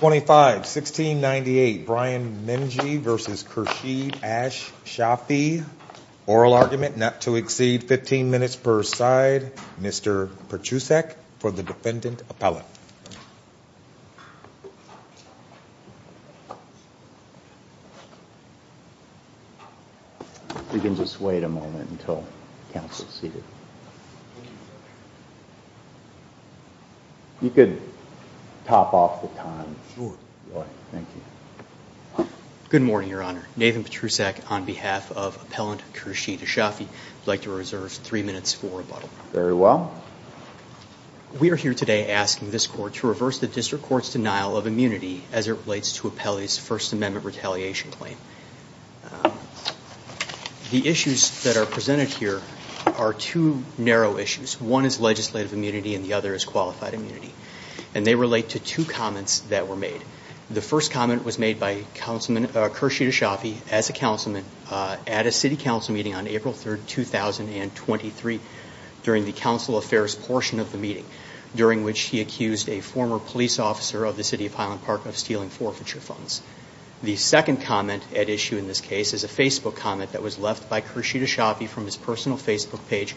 25-1698 Brian Menge v. Khursheed Ash-Shafii. Oral argument not to exceed 15 minutes per side. Mr. Pertusek for the defendant appellate. Good morning, Your Honor. Nathan Pertusek on behalf of Appellant Khursheed Ash-Shafii. I would like to reserve three minutes for rebuttal. Very well. We are here today asking this court to reverse the district court's denial of immunity as it relates to Appellee's First Amendment retaliation claim. The issues that are presented here are two narrow issues. One is legislative immunity and the other is qualified immunity. And they relate to two comments that were made. The first comment was made by Khursheed Ash-Shafii as a councilman at a city council meeting on April 3, 2023 during the council affairs portion of the meeting, during which he accused a former police officer of the City of Highland Park of stealing forfeiture funds. The second comment at issue in this case is a Facebook comment that was left by Khursheed Ash-Shafii from his personal Facebook page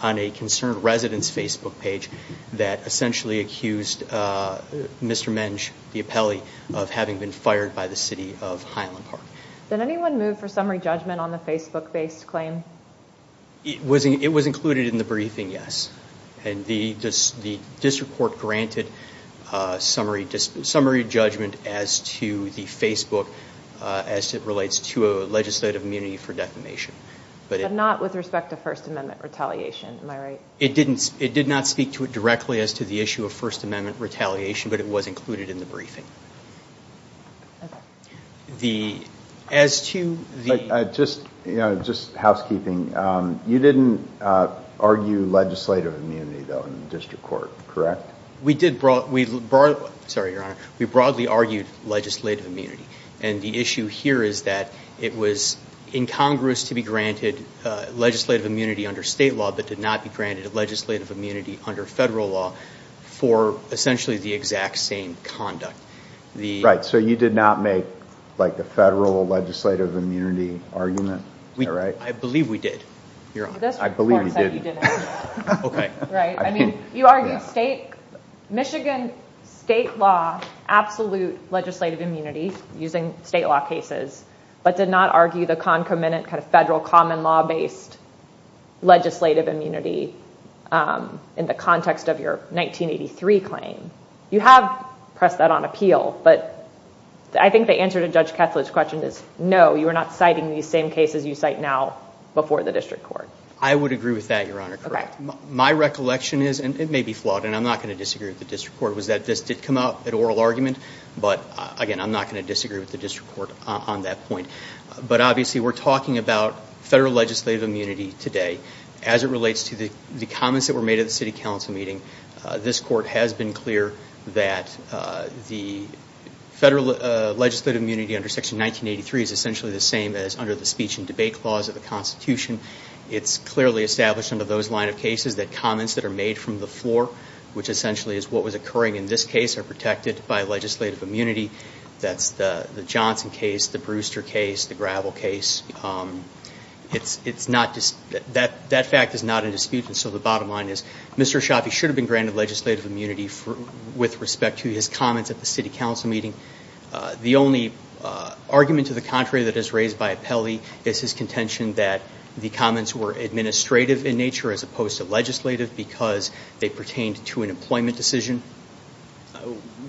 on a concerned resident's Facebook page that essentially accused Mr. Menge, the appellee, of having been fired by the City of Highland Park. Did anyone move for summary judgment on the Facebook-based claim? It was included in the briefing, yes. And the district court granted summary judgment as to the Facebook as it relates to a legislative immunity for defamation. But not with respect to First Amendment retaliation, am I right? It did not speak to it directly as to the issue of First Amendment retaliation, but it was included in the briefing. Just housekeeping, you didn't argue legislative immunity, though, in the district court, correct? We did. Sorry, Your Honor. We broadly argued legislative immunity. And the issue here is that it was incongruous to be granted legislative immunity under state law, but did not be granted legislative immunity under federal law for essentially the exact same conduct. Right, so you did not make the federal legislative immunity argument, am I right? I believe we did, Your Honor. I believe we did. You argued Michigan state law, absolute legislative immunity using state law cases, but did not argue the concomitant kind of federal common law-based legislative immunity in the context of your 1983 claim. You have pressed that on appeal, but I think the answer to Judge Kessler's question is no, you are not citing these same cases you cite now before the district court. I would agree with that, Your Honor. My recollection is, and it may be flawed, and I'm not going to disagree with the district court, was that this did come up at oral argument, but again, I'm not going to disagree with the district court on that point. But obviously, we're talking about federal legislative immunity today. As it relates to the comments that were made at the city council meeting, this court has been clear that the federal legislative immunity under Section 1983 is essentially the same as under the speech and debate clause of the Constitution. It's clearly established under those line of cases that comments that are made from the floor, which essentially is what was occurring in this case, are protected by legislative immunity. That's the Johnson case, the Brewster case, the Gravel case. That fact is not in dispute, and so the bottom line is Mr. Ashafi should have been granted legislative immunity with respect to his comments at the city council meeting. The only argument to the contrary that is raised by Apelli is his contention that the comments were administrative in nature as opposed to legislative because they pertained to an employment decision.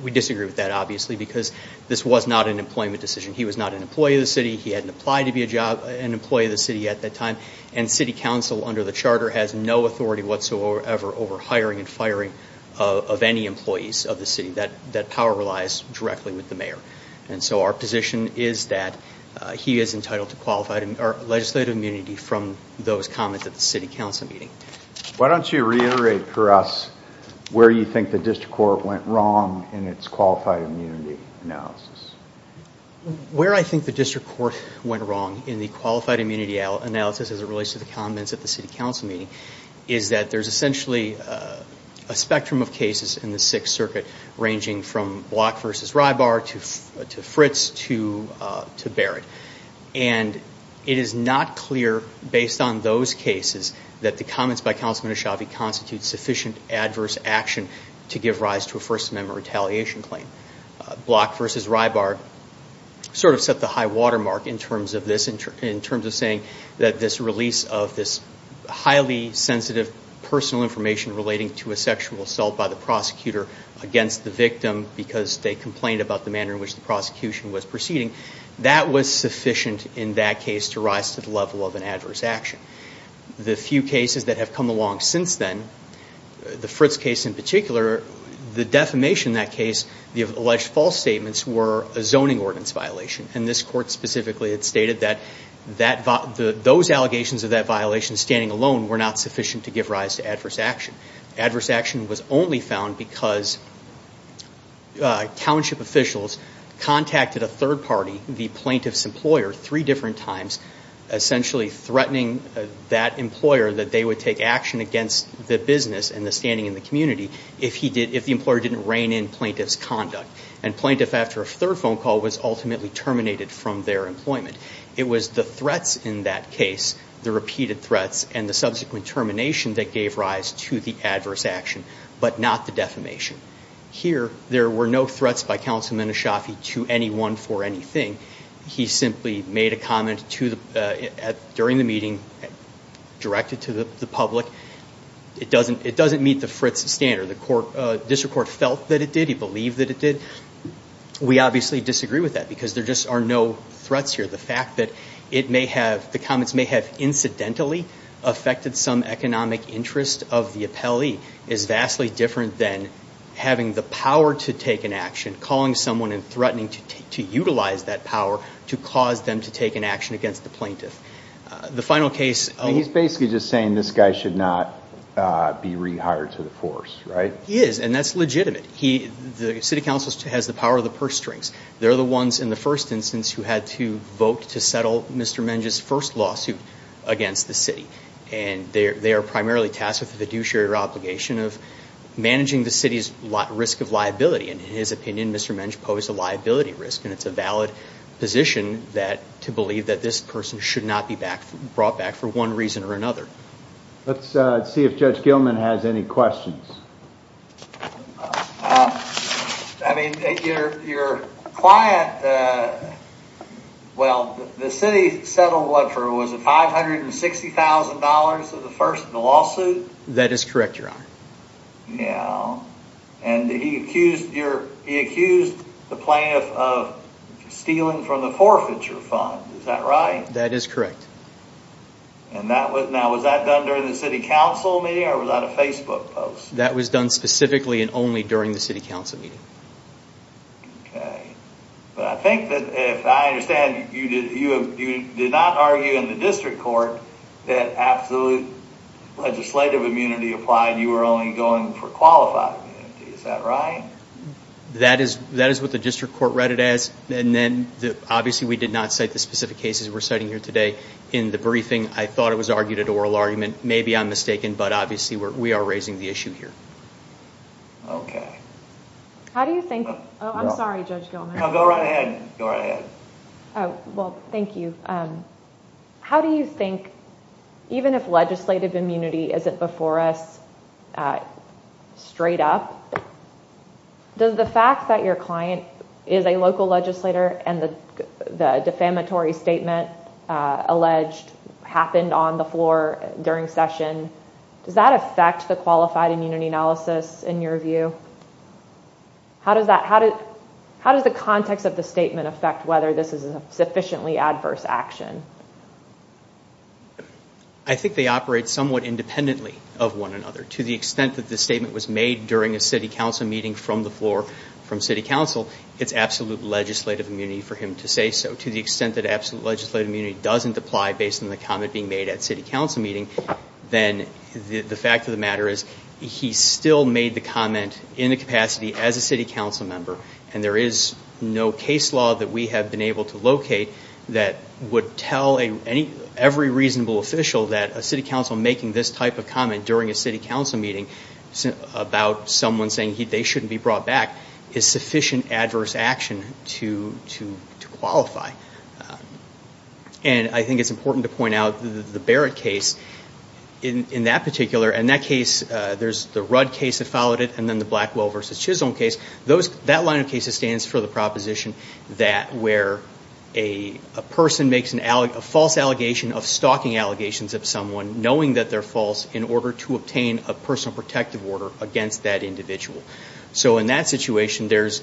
We disagree with that, obviously, because this was not an employment decision. He was not an employee of the city. He hadn't applied to be an employee of the city at that time, and city council under the charter has no authority whatsoever over hiring and firing of any employees of the city. That power relies directly with the mayor. And so our position is that he is entitled to legislative immunity from those comments at the city council meeting. Why don't you reiterate for us where you think the district court went wrong in its qualified immunity analysis? Where I think the district court went wrong in the qualified immunity analysis as it relates to the comments at the city council meeting is that there's essentially a spectrum of cases in the Sixth Circuit ranging from Block v. Rybar to Fritz to Barrett. And it is not clear, based on those cases, that the comments by Councilman Ashavi constitute sufficient adverse action to give rise to a First Amendment retaliation claim. Block v. Rybar sort of set the high watermark in terms of saying that this release of this highly sensitive personal information relating to a sexual assault by the prosecutor against the victim because they complained about the manner in which the prosecution was proceeding, that was sufficient in that case to rise to the level of an adverse action. The few cases that have come along since then, the Fritz case in particular, the defamation in that case, the alleged false statements were a zoning ordinance violation. And this court specifically had stated that those allegations of that violation standing alone were not sufficient to give rise to adverse action. Adverse action was only found because township officials contacted a third party, the plaintiff's employer, three different times, essentially threatening that employer that they would take action against the business and the standing in the community if the employer didn't rein in plaintiff's conduct. And plaintiff, after a third phone call, was ultimately terminated from their employment. It was the threats in that case, the repeated threats, and the subsequent termination that gave rise to the adverse action, but not the defamation. Here, there were no threats by Councilman Eshafi to anyone for anything. He simply made a comment during the meeting, directed to the public. It doesn't meet the Fritz standard. The district court felt that it did. He believed that it did. We obviously disagree with that because there just are no threats here. The fact that the comments may have incidentally affected some economic interest of the appellee is vastly different than having the power to take an action, calling someone and threatening to utilize that power to cause them to take an action against the plaintiff. The final case of- He's basically just saying this guy should not be rehired to the force, right? He is, and that's legitimate. The City Council has the power of the purse strings. They're the ones, in the first instance, who had to vote to settle Mr. Menge's first lawsuit against the city. They are primarily tasked with the due share obligation of managing the city's risk of liability. In his opinion, Mr. Menge posed a liability risk, and it's a valid position to believe that this person should not be brought back for one reason or another. Let's see if Judge Gilman has any questions. Your client, well, the city settled for, was it $560,000 for the first lawsuit? That is correct, Your Honor. He accused the plaintiff of stealing from the forfeiture fund, is that right? That is correct. Now, was that done during the City Council meeting, or was that a Facebook post? That was done specifically and only during the City Council meeting. Okay. But I think that, if I understand, you did not argue in the District Court that absolute legislative immunity applied, you were only going for qualified immunity, is that right? That is what the District Court read it as, and then, obviously, we did not cite the specific cases we're citing here today in the briefing. I thought it was argued at oral argument. Maybe I'm mistaken, but obviously, we are raising the issue here. Okay. How do you think, oh, I'm sorry, Judge Gilman. No, go right ahead. Go right ahead. Oh, well, thank you. How do you think, even if legislative immunity isn't before us straight up, does the fact that your client is a local legislator and the defamatory statement alleged happened on the floor during session, does that affect the qualified immunity analysis, in your view? How does the context of the statement affect whether this is a sufficiently adverse action? I think they operate somewhat independently of one another, to the extent that the statement was made during a City Council meeting from the floor from City Council, it's absolute legislative immunity for him to say so. To the extent that absolute legislative immunity doesn't apply based on the comment being made at City Council meeting, then the fact of the matter is he still made the comment in the capacity as a City Council member, and there is no case law that we have been able to locate that would tell every reasonable official that a City Council making this type of comment during a City Council meeting about someone saying they shouldn't be brought back is sufficient adverse action to qualify. And I think it's important to point out the Barrett case in that particular, and that case, there's the Rudd case that followed it, and then the Blackwell v. Chisholm case, that line of cases stands for the proposition that where a person makes a false allegation of stalking allegations of someone, knowing that they're false, in order to obtain a personal protective order against that individual. So in that situation, there's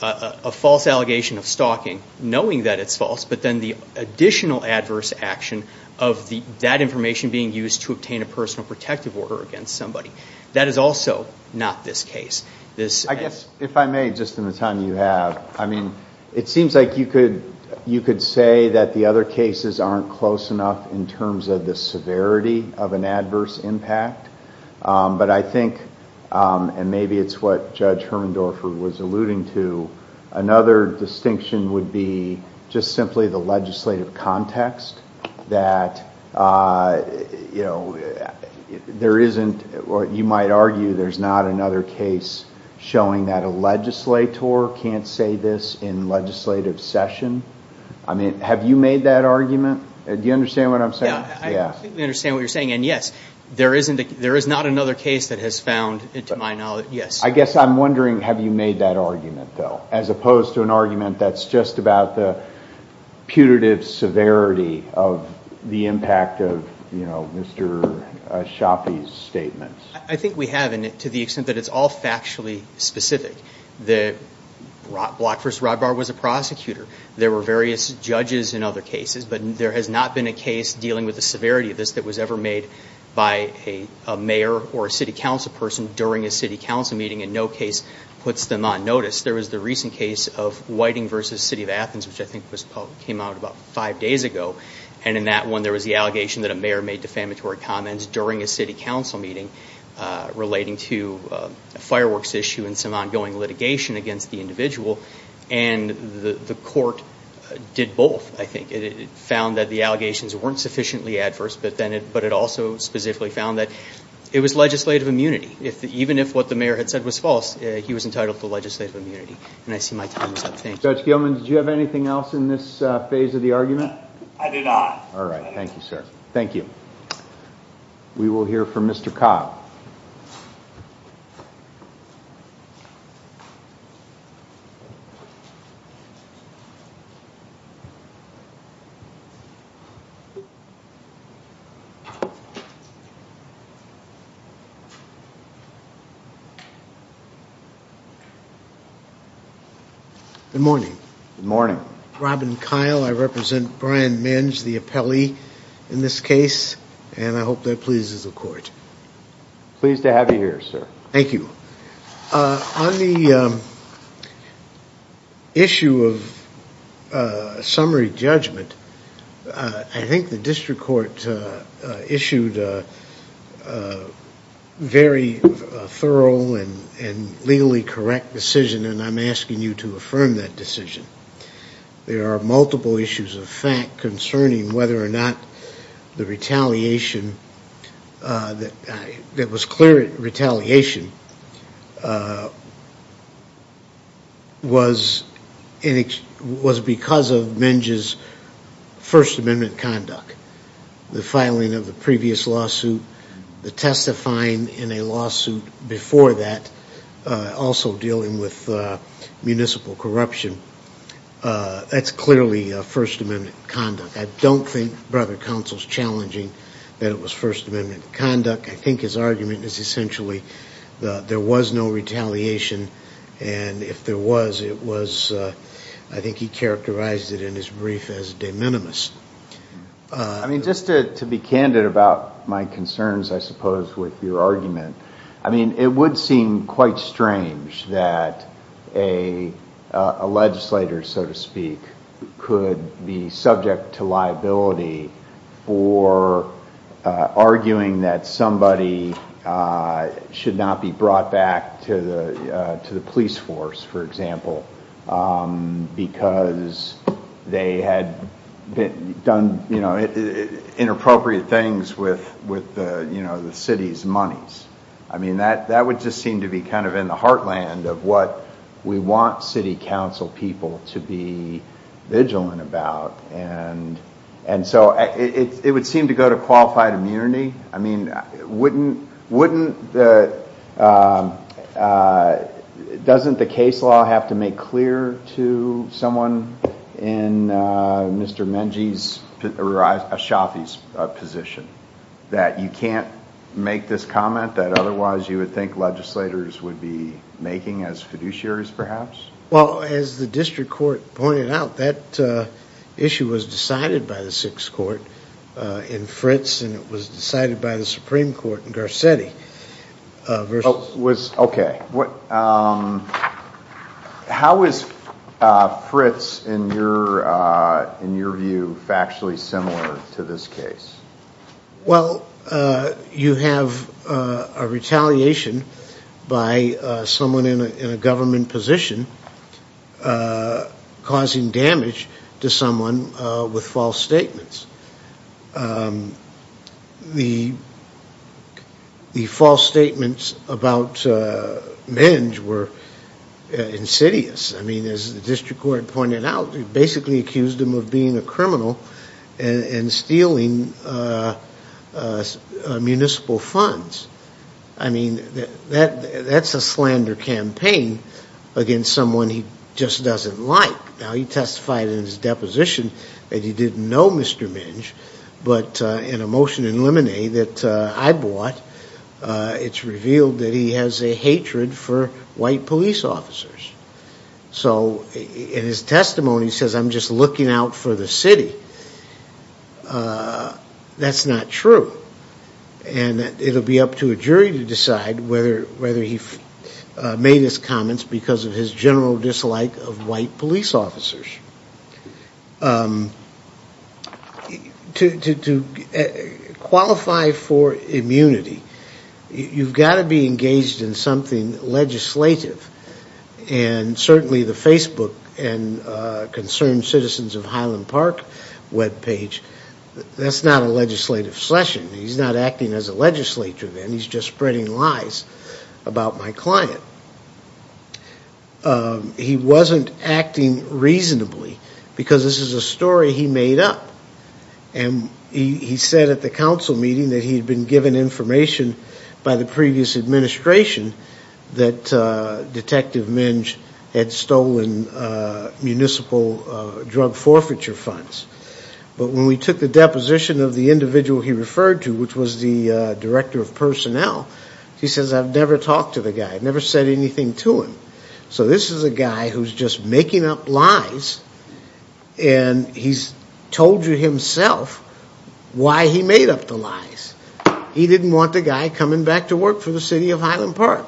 a false allegation of stalking, knowing that it's false, but then the additional adverse action of that information being used to obtain a personal protective order against somebody. That is also not this case. I guess, if I may, just in the time you have, I mean, it seems like you could say that the other cases aren't close enough in terms of the severity of an adverse impact, but I think, and maybe it's what Judge Hermendorfer was alluding to, another distinction would be just simply the legislative context, that, you know, there isn't, or you might argue there's not another case showing that a legislator can't say this in legislative session. I mean, have you made that argument? Do you understand what I'm saying? Yeah, I think we understand what you're saying, and yes, there is not another case that has found, to my knowledge, yes. I guess I'm wondering, have you made that argument, though, as opposed to an argument that's just about the putative severity of the impact of, you know, Mr. Shafi's statements? I think we have, to the extent that it's all factually specific. Block v. Rybar was a but there has not been a case dealing with the severity of this that was ever made by a mayor or a city council person during a city council meeting, and no case puts them on notice. There was the recent case of Whiting v. City of Athens, which I think came out about five days ago, and in that one there was the allegation that a mayor made defamatory comments during a city council meeting relating to a fireworks issue and some ongoing litigation against the individual, and the court did both, I think. It found that the allegations weren't sufficiently adverse, but it also specifically found that it was legislative immunity. Even if what the mayor had said was false, he was entitled to legislative immunity, and I see my time is up. Thank you. Judge Gilman, did you have anything else in this phase of the argument? I did not. All right. Thank you, sir. Thank you. We will hear from Mr. Cobb. Good morning. Good morning. Robin Kyle, I represent Brian Minge, the appellee in this case, and I hope that pleases the Pleased to have you here, sir. Thank you. On the issue of summary judgment, I think the district court issued a very thorough and legally correct decision, and I'm asking you to affirm that decision. There are multiple issues of fact concerning whether or not the retaliation that was clear retaliation was because of Minge's First Amendment conduct. The filing of the previous lawsuit, the testifying before that, also dealing with municipal corruption, that's clearly First Amendment conduct. I don't think Brother Counsel is challenging that it was First Amendment conduct. I think his argument is essentially there was no retaliation, and if there was, it was I think he characterized it in his brief as de minimis. I mean, just to be candid about my concerns, I suppose, with your argument, I mean, it would seem quite strange that a legislator, so to speak, could be subject to liability for arguing that somebody should not be brought back to the police force, for example, because they had done inappropriate things with the city's monies. I mean, that would just seem to be kind of in the heartland of what we want city council people to be vigilant about, and so it would seem to go to qualified immunity. I mean, wouldn't the, doesn't the case law have to make clear to someone in Mr. Minge's position that you can't make this comment that otherwise you would think legislators would be making as fiduciaries, perhaps? Well, as the district court pointed out, that issue was decided by the 6th Court in Fritz, and it was decided by the Supreme Court in Garcetti. Okay. How is Fritz, in your view, factually similar to this case? Well, you have a retaliation by someone in a government position causing damage to someone with false statements. The false statements about Minge were insidious. I mean, as the district court pointed out, it basically accused him of being a criminal and stealing municipal funds. I mean, that's a slander campaign against someone he just doesn't like. Now, he testified in his deposition that he didn't know Mr. Minge, but in a motion in Lemonade that I bought, it's revealed that he has a hatred for white police officers. So in his testimony, he says, I'm just looking out for the city. That's not true. And it'll be up to a jury to decide whether he made his comments because of his general dislike of white police officers. To qualify for immunity, you've got to be engaged in something legislative, and certainly the Facebook and Concerned Citizens of Highland Park webpage, that's not a legislative session. He's not acting as a legislature then. He's just spreading lies about my client. He wasn't acting reasonably because this is a story he made up. And he said at the council meeting that he had been given information by the previous administration that Detective Minge had stolen municipal drug forfeiture funds. But when we took the deposition of the individual he referred to, which was the director of personnel, he says, I've never talked to the guy. I've never said anything to him. So this is a guy who's just making up lies, and he's told you himself why he made up the lies. He didn't want the guy coming back to work for the city of Highland Park.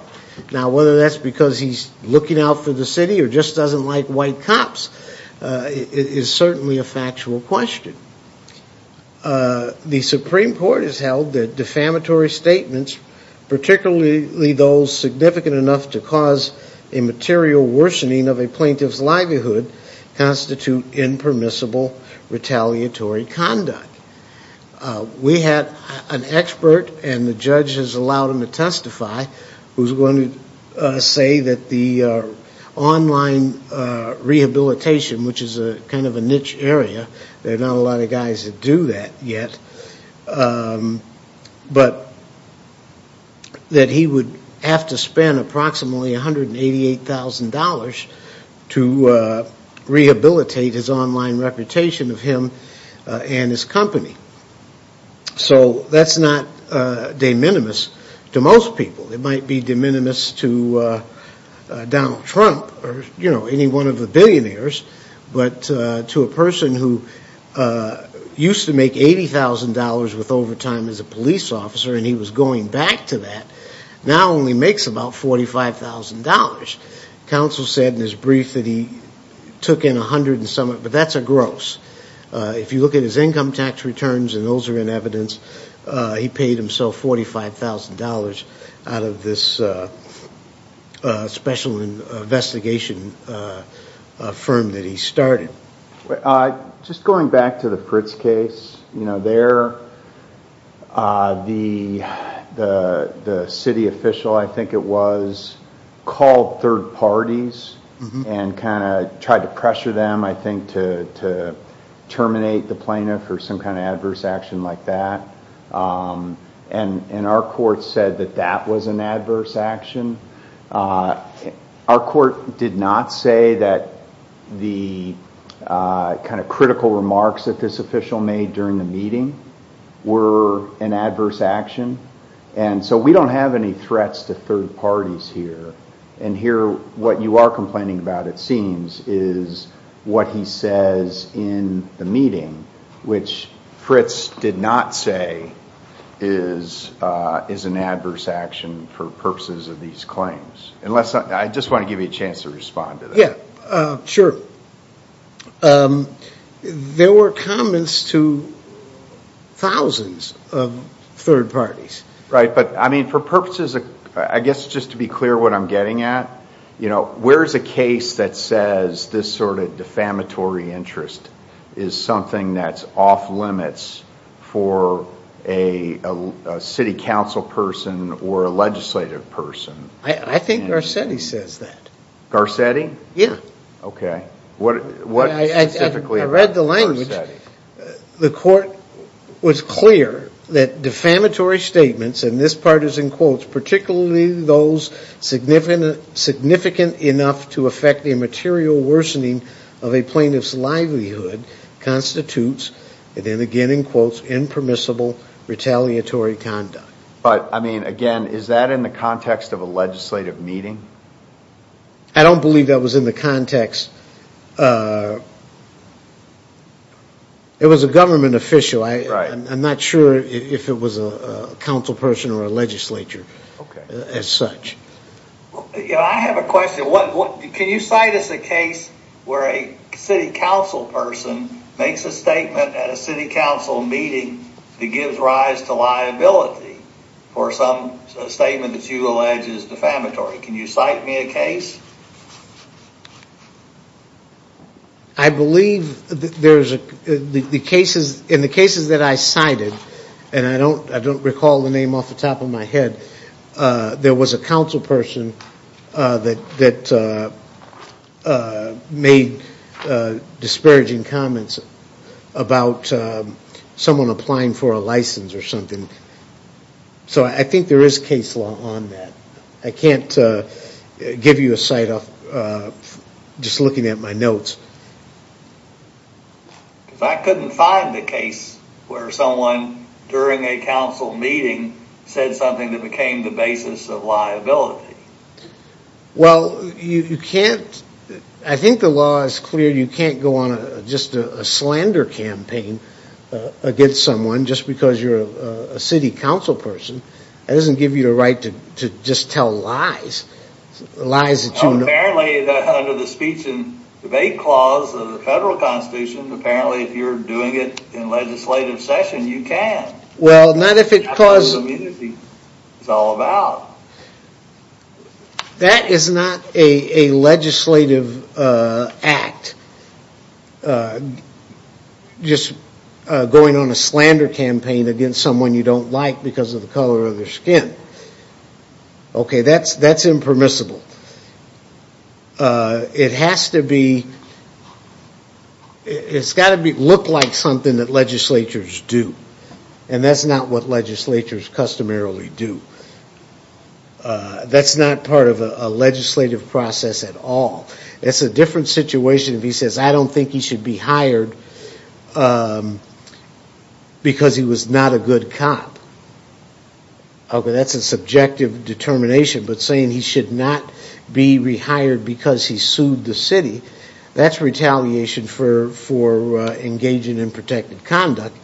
Now, whether that's because he's looking out for the city or just doesn't like white cops is certainly a factual question. The Supreme Court has held that defamatory statements, particularly those significant enough to cause a material worsening of a plaintiff's livelihood, constitute impermissible retaliatory conduct. We had an expert, and the judge has allowed him to testify, who's going to say that the online rehabilitation, which is kind of a niche area, there are not a lot of guys that do that yet, but that he would have to spend approximately $188,000 to rehabilitate his to Donald Trump or, you know, any one of the billionaires, but to a person who used to make $80,000 with overtime as a police officer, and he was going back to that, now only makes about $45,000. Counsel said in his brief that he took in $100,000, but that's a gross. If you look at his income tax returns, and those are in evidence, he paid himself $45,000 out of this special investigation firm that he started. Just going back to the Fritz case, you know, there the city official, I think it was, called third parties and kind of tried to pressure them, I think, to terminate the plaintiff or some kind of adverse action like that, and our court said that that was an adverse action. Our court did not say that the kind of critical remarks that this official made during the meeting were an adverse action, and so we don't have any threats to third parties here, and here what you are complaining about, it seems, is what he says in the meeting, which Fritz did not say is an adverse action for purposes of these claims. I just want to give you a chance to respond to that. Yeah, sure. There were comments to thousands of third parties. Right, but I mean, for purposes of, I guess just to be clear what I'm getting at, you know, where is a case that says this sort of defamatory interest is something that's off limits for a city council person or a legislative person? I think Garcetti says that. Yeah. Okay. I read the language. The court was clear that defamatory statements, and this part is in quotes, particularly those significant enough to affect the material worsening of a plaintiff's livelihood constitutes, and then again in quotes, impermissible retaliatory conduct. But, I mean, again, is that in the context of a legislative meeting? I don't believe that was in the context. It was a government official. I'm not sure if it was a council person or a legislature as such. I have a question. Can you cite us a case where a city council person makes a statement at a city council meeting that gives rise to liability for some statement that you allege is defamatory? Can you cite me a case? I believe in the cases that I cited, and I don't recall the name off the top of my head, there was a council person that made disparaging comments about someone applying for a license or something. So I think there is case law on that. I can't give you a cite just looking at my notes. I couldn't find a case where someone during a council meeting said something that became the basis of liability. Well, I think the law is clear. You can't go on just a slander campaign against someone just because you're a city council person. That doesn't give you the right to just tell lies. Apparently, under the speech and debate clause of the federal constitution, if you're doing it in legislative session, you can. That's what community is all about. That is not a legislative act. Just going on a slander campaign against someone you don't like because of the color of their skin. Okay, that's impermissible. It's got to look like something that legislatures do, and that's not what legislatures customarily do. That's not part of a legislative process at all. It's a different situation if he says, I don't think he should be hired because he was not a good cop. Okay, that's a subjective determination, but saying he should not be rehired because he sued the city, that's retaliation for engaging in protected conduct,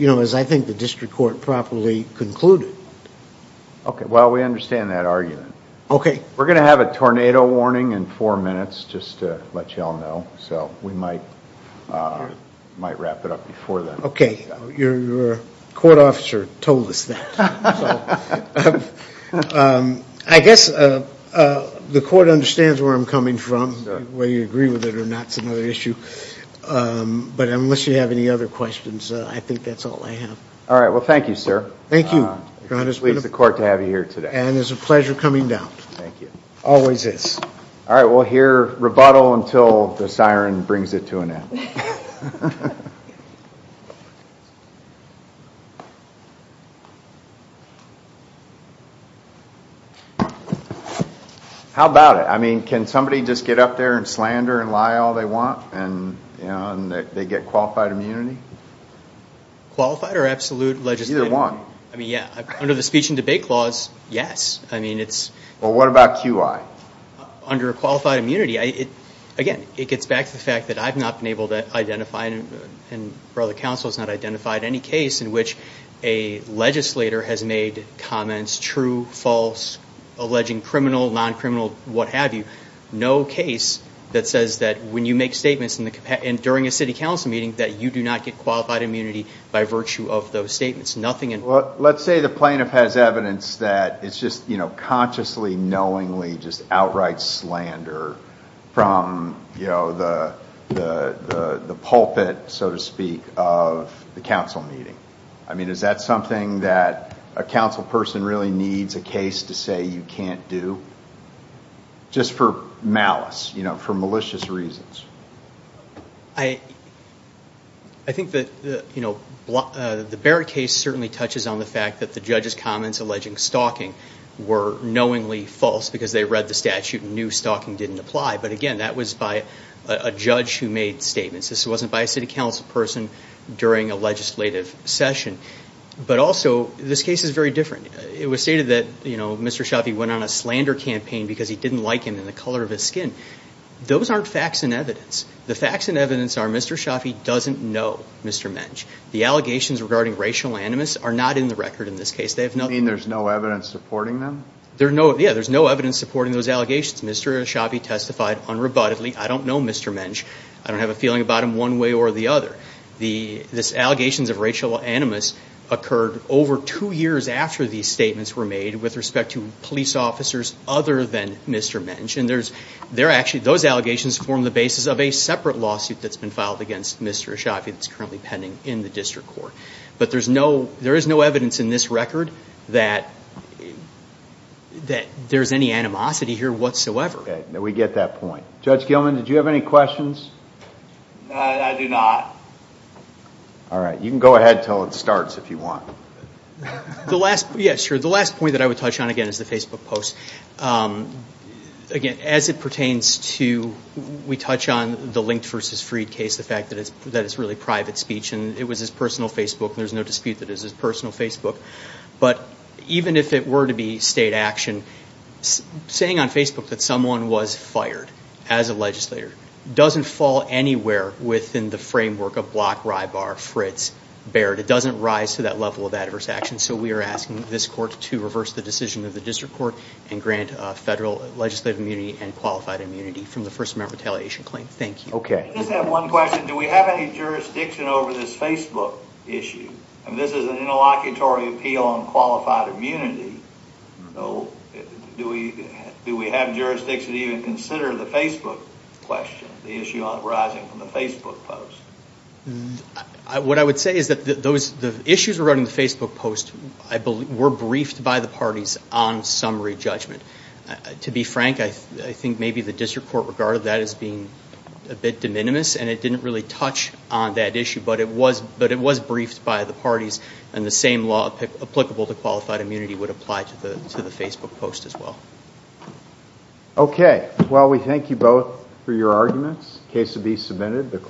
as I think the district court properly concluded. Okay, well, we understand that argument. Okay. We're going to have a tornado warning in four minutes, just to let you all know, so we might wrap it up before then. Okay, your court officer told us that. I guess the court understands where I'm coming from, whether you agree with it or not is another issue. But unless you have any other questions, I think that's all I have. All right, well, thank you, sir. Thank you. It pleases the court to have you here today. And it's a pleasure coming down. Thank you. Always is. All right, we'll hear rebuttal until the siren brings it to an end. Thank you. How about it? I mean, can somebody just get up there and slander and lie all they want and they get qualified immunity? Qualified or absolute legislative immunity? Either one. I mean, yeah, under the speech and debate clause, yes. I mean, it's... Well, what about QI? Under qualified immunity, again, it gets back to the fact that I've not been able to identify, and the Council has not identified any case in which a legislator has made comments, true, false, alleging criminal, non-criminal, what have you. No case that says that when you make statements during a city council meeting that you do not get qualified immunity by virtue of those statements. Nothing in... Well, let's say the plaintiff has evidence that it's just consciously, knowingly, just outright slander from the pulpit, so to speak, of the council meeting. I mean, is that something that a council person really needs a case to say you can't do? Just for malice, for malicious reasons. I think that the Barrett case certainly touches on the fact that the judge's comments alleging stalking were knowingly false because they read the statute and knew stalking didn't apply. But again, that was by a judge who made statements. This wasn't by a city council person during a legislative session. But also, this case is very different. It was stated that Mr. Shafi went on a slander campaign because he didn't like him in the color of his skin. Those aren't facts and evidence. The facts and evidence are Mr. Shafi doesn't know Mr. Mensch. The allegations regarding racial animus are not in the record in this case. You mean there's no evidence supporting them? Yeah, there's no evidence supporting those allegations. Mr. Shafi testified unrebuttedly, I don't know Mr. Mensch. I don't have a feeling about him one way or the other. The allegations of racial animus occurred over two years after these statements were made with respect to police officers other than Mr. Mensch. Those allegations form the basis of a separate lawsuit that's been filed against Mr. Shafi that's currently pending in the district court. But there is no evidence in this record that there's any animosity here whatsoever. We get that point. Judge Gilman, did you have any questions? I do not. All right. You can go ahead until it starts if you want. The last point that I would touch on again is the Facebook post. Again, as it pertains to we touch on the Linked v. Freed case, the fact that it's really private speech and it was his personal Facebook and there's no dispute that it was his personal Facebook. But even if it were to be state action, saying on Facebook that someone was fired as a legislator doesn't fall anywhere within the framework of Block, Rybar, Fritz, Baird. It doesn't rise to that level of adverse action. And so we are asking this court to reverse the decision of the district court and grant federal legislative immunity and qualified immunity from the First Amendment retaliation claim. Thank you. I just have one question. Do we have any jurisdiction over this Facebook issue? This is an interlocutory appeal on qualified immunity. Do we have jurisdiction to even consider the Facebook question, the issue arising from the Facebook post? What I would say is that the issues regarding the Facebook post were briefed by the parties on summary judgment. To be frank, I think maybe the district court regarded that as being a bit de minimis and it didn't really touch on that issue, but it was briefed by the parties and the same law applicable to qualified immunity would apply to the Facebook post as well. Okay. Well, we thank you both for your arguments. Case to be submitted.